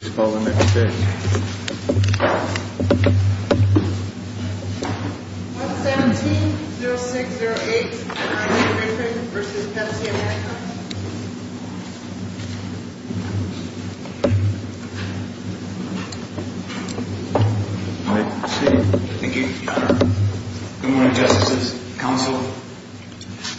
17-0608 and Andre Griffin v. Pepsi America Good morning, Justices, Counsel,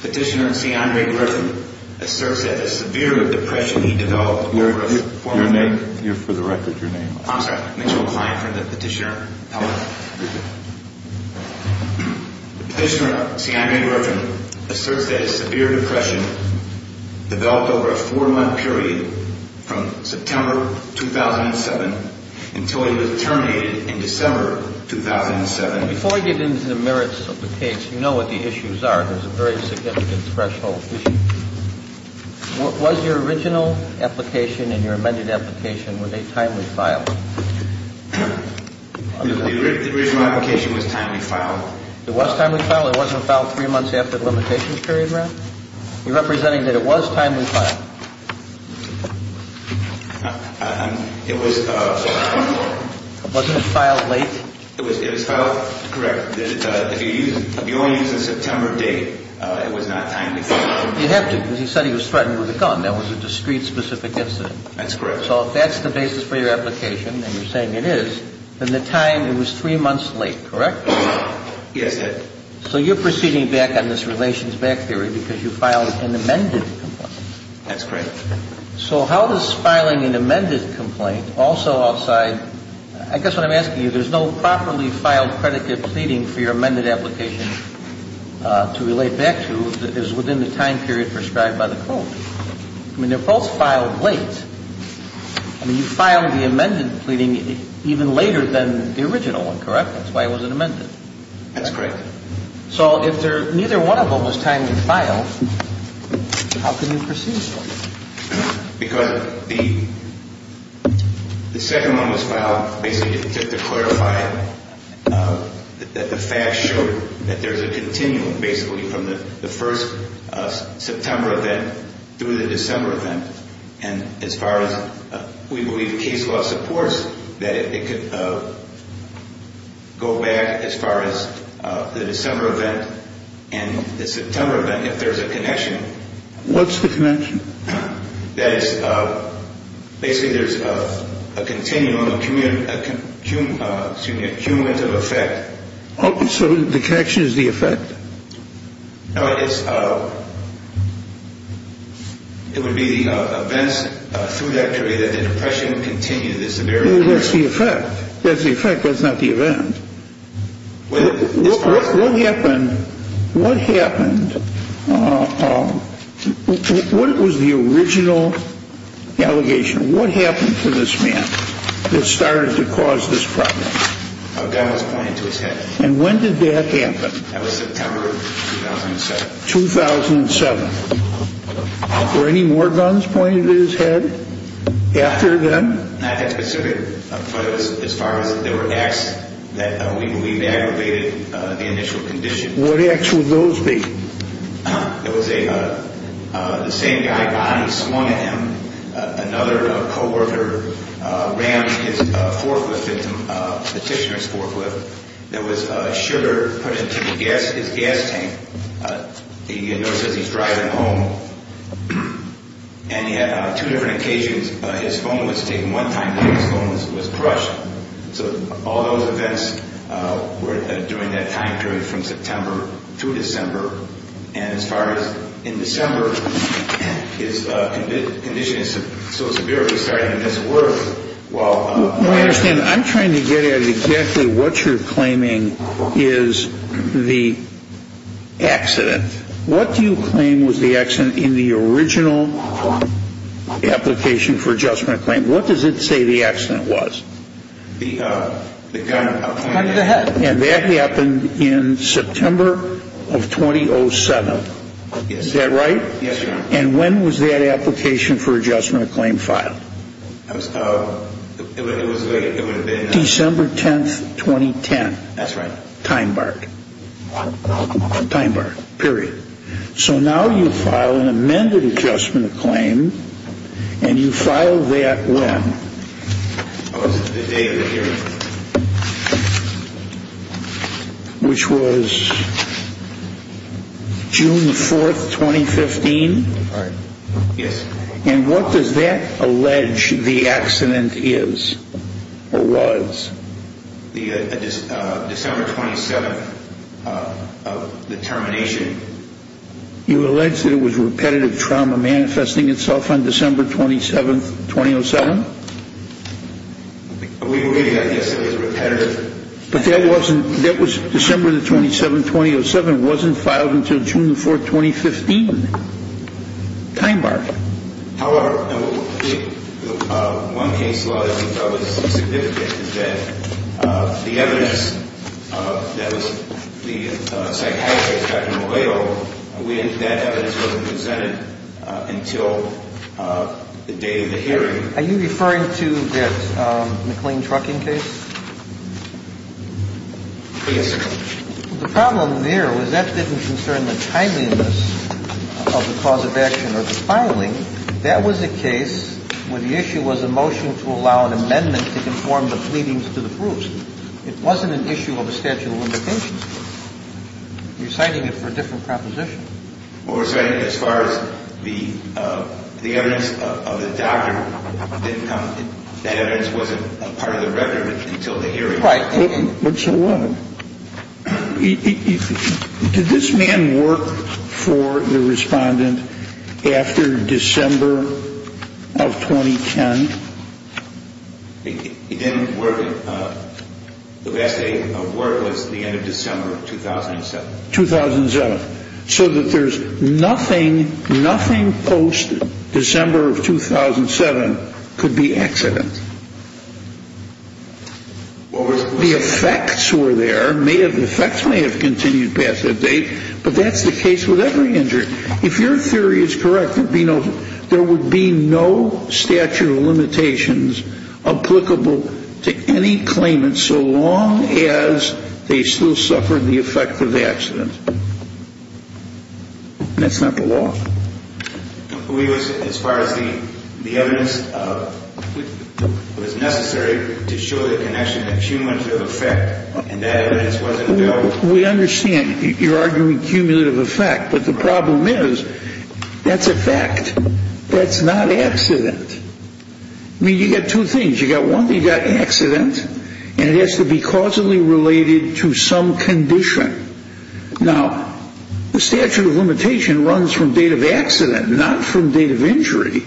Petitioner and see Andre Griffin, asserts that a severe depression he developed over a four month period from September 2007 until he was terminated in December 2007. Before we get into the merits of the case, you know what the issues are. There's a very significant threshold issue. Was your original application and your amended application, were they timely filed? The original application was timely filed. It was timely filed? It wasn't filed three months after the limitations period, Ralph? Are you representing that it was timely filed? It was. Wasn't it filed late? It was filed, correct. If you only use the September date, it was not timely filed. You have to, because he said he was threatened with a gun. That was a discrete specific incident. That's correct. So if that's the basis for your application and you're saying it is, then the time, it was three months late, correct? Yes, it is. So you're proceeding back on this relations back theory because you filed an amended complaint. That's correct. So how does filing an amended complaint also outside, I guess what I'm asking you, there's no properly filed predicate pleading for your amended application to relate back to that is within the time period prescribed by the code. I mean, they're both filed late. I mean, you filed the amended pleading even later than the original one, correct? That's why it wasn't amended. That's correct. So if neither one of them was timely filed, how can you proceed? Because the second one was filed basically to clarify that the facts show that there's a continuum basically from the first September event through the December event. And as far as we believe the case law supports that it could go back as far as the December event and the September event if there's a connection. What's the connection? That is basically there's a continuum, excuse me, a cumulative effect. So the connection is the effect? No, it's, it would be the events through that period that the depression continued. That's the effect. That's the effect. That's not the event. What happened, what happened, what was the original allegation? What happened to this man that started to cause this problem? A gun was pointed to his head. And when did that happen? That was September 2007. 2007. Were any more guns pointed at his head after then? Not that specific, but it was as far as there were acts that we believe aggravated the initial condition. What acts would those be? It was a, the same guy, Bonnie, swung at him. Another coworker ran his forklift victim, petitioner's forklift. There was sugar put into the gas, his gas tank. He notices he's driving home. And he had two different applications. His phone was taken one time and his phone was crushed. So all those events were during that time period from September to December. And as far as in December, his condition is so severe it was starting to miss work. Well, I understand. I'm trying to get at exactly what you're claiming is the accident. What do you claim was the accident in the original application for adjustment of claim? What does it say the accident was? The gun pointed at his head. And that happened in September of 2007. Yes. Is that right? Yes, sir. And when was that application for adjustment of claim filed? It was late. It was late. It was late. And what was the day of the hearing? July 4th, 2015. That's right. Time barred. Time barred, period. So now you file an amended adjustment of claim and you file that when? It was the day of the hearing. Which was June 4th, 2015? Right. Yes. And what does that allege the accident is or was? December 27th of the termination. You allege that it was repetitive trauma manifesting itself on December 27th, 2007? We believe that, yes, it was repetitive. But that was December 27th, 2007. It wasn't filed until June 4th, 2015. Time barred. However, one case law that we thought was significant is that the evidence that was the psychiatrist, Dr. McLeod, we think that evidence wasn't presented until the day of the hearing. Are you referring to that McLean trucking case? Yes, sir. The problem there was that didn't concern the timeliness of the cause of action or the filing. That was a case where the issue was a motion to allow an amendment to conform the pleadings to the proofs. It wasn't an issue of a statute of limitations. You're citing it for a different proposition. Well, we're citing it as far as the evidence of the doctor didn't come. That evidence wasn't part of the record until the hearing. Right. So what? Did this man work for the respondent after December of 2010? He didn't work. The last day of work was the end of December of 2007. 2007. So that there's nothing, nothing post-December of 2007 could be accident. The effects were there. The effects may have continued past that date, but that's the case with every injury. If your theory is correct, there would be no statute of limitations applicable to any claimant so long as they still suffered the effect of the accident. That's not the law. As far as the evidence was necessary to show the connection, the cumulative effect, and that evidence wasn't available? We understand you're arguing cumulative effect, but the problem is that's a fact. That's not accident. I mean, you've got two things. You've got trauma, you've got accident, and it has to be causally related to some condition. Now, the statute of limitation runs from date of accident, not from date of injury.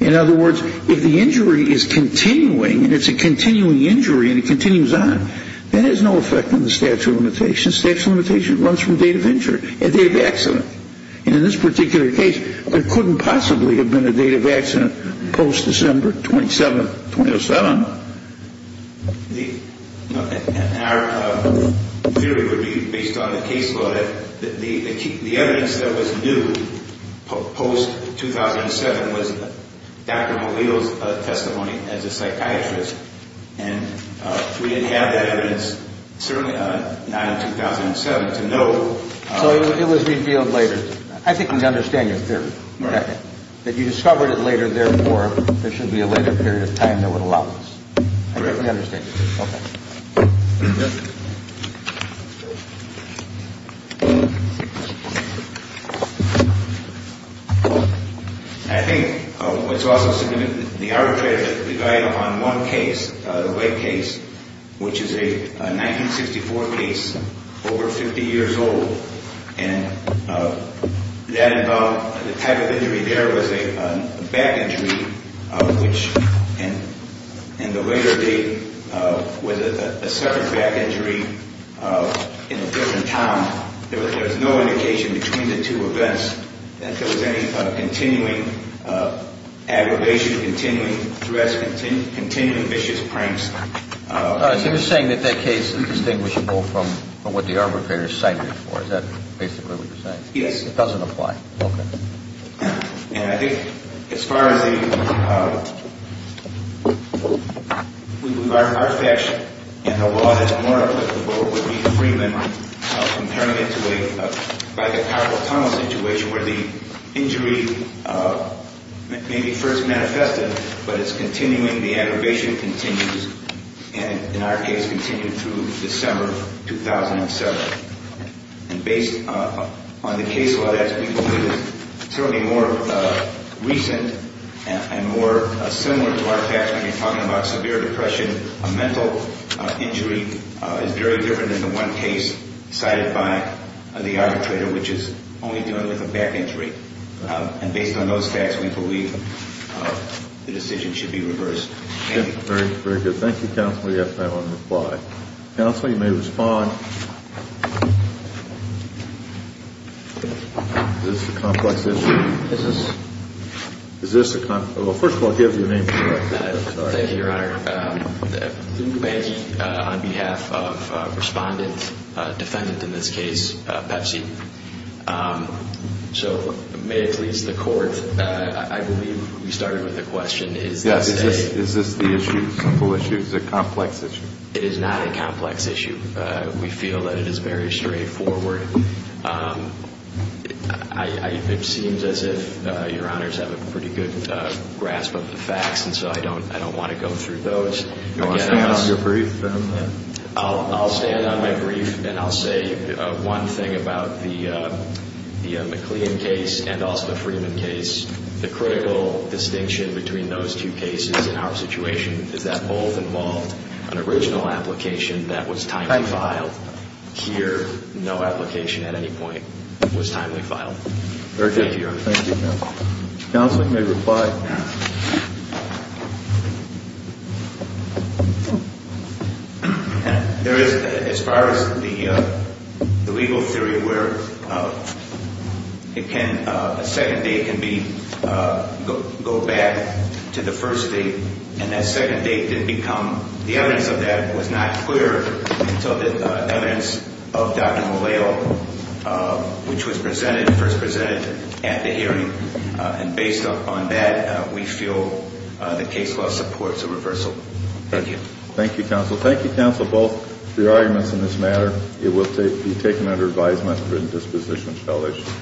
In other words, if the injury is continuing and it's a continuing injury and it continues on, that has no effect on the statute of limitation. Statute of limitation runs from date of injury, date of accident. And in this particular case, there couldn't possibly have been a date of accident. Our theory would be, based on the case law, that the evidence that was new post-2007 was Dr. Melillo's testimony as a psychiatrist. And we didn't have that evidence, certainly not in 2007, to know. So it was revealed later. I think we understand your theory. That you understand your theory. Okay. I think what's also significant, the arbitrator that we relied upon in one case, the White case, which is a 1964 case, over 50 years old, and that involved the type of injury there was a back injury, which in the later date was a separate back injury in a different town. There was no indication between the two events that there was any continuing aggravation, continuing threats, continuing vicious pranks. So you're saying that that case is distinguishable from what the arbitrator cited it for. Is that basically what you're saying? Yes. It doesn't apply. Okay. And I think as far as the, from our perspective, and the law that's more applicable would be Freeman comparing it to a powerful tunnel situation where the injury may be first manifested, but it's continuing, the aggravation continues, and in our case continued through December 2007. And based on the case law that we believe is certainly more recent and more similar to our facts when you're talking about severe depression, a mental injury is very different than the one case cited by the arbitrator, which is only dealing with a back injury. And based on those facts, we believe the decision should be reversed. Very good. Thank you, Counsel. We have time for one more reply. Counsel, you may respond. Is this a complex injury? Is this? Is this a complex? Well, first of all, I'll give you a name for it. Thank you, Your Honor. Benji on behalf of Respondent, defendant in this case, Pepsi. So may it please the court, I believe we started with a question. Yes. Is this the issue, simple issue? Is it a complex issue? It is not a complex issue. We feel that it is very straightforward. It seems as if Your Honors have a pretty good grasp of the facts, and so I don't want to go through those. Do you want to stand on your brief? I'll stand on my brief, and I'll say one thing about the McLean case and also the Freeman case. The critical distinction between those two cases in our situation is that both involved an original application that was timely filed. Here, no application at any point was timely filed. Very good, Your Honor. Thank you, Counsel. Counsel, you may reply. There is, as far as the legal theory where it can, a second date can be, go back to the first date, and that second date didn't become, the evidence of that was not clear until the evidence of Dr. Malayo, which was we feel the case law supports a reversal. Thank you. Thank you, Counsel. Thank you, Counsel, both for your arguments in this matter. It will be taken under advisement for indisposition of felonies.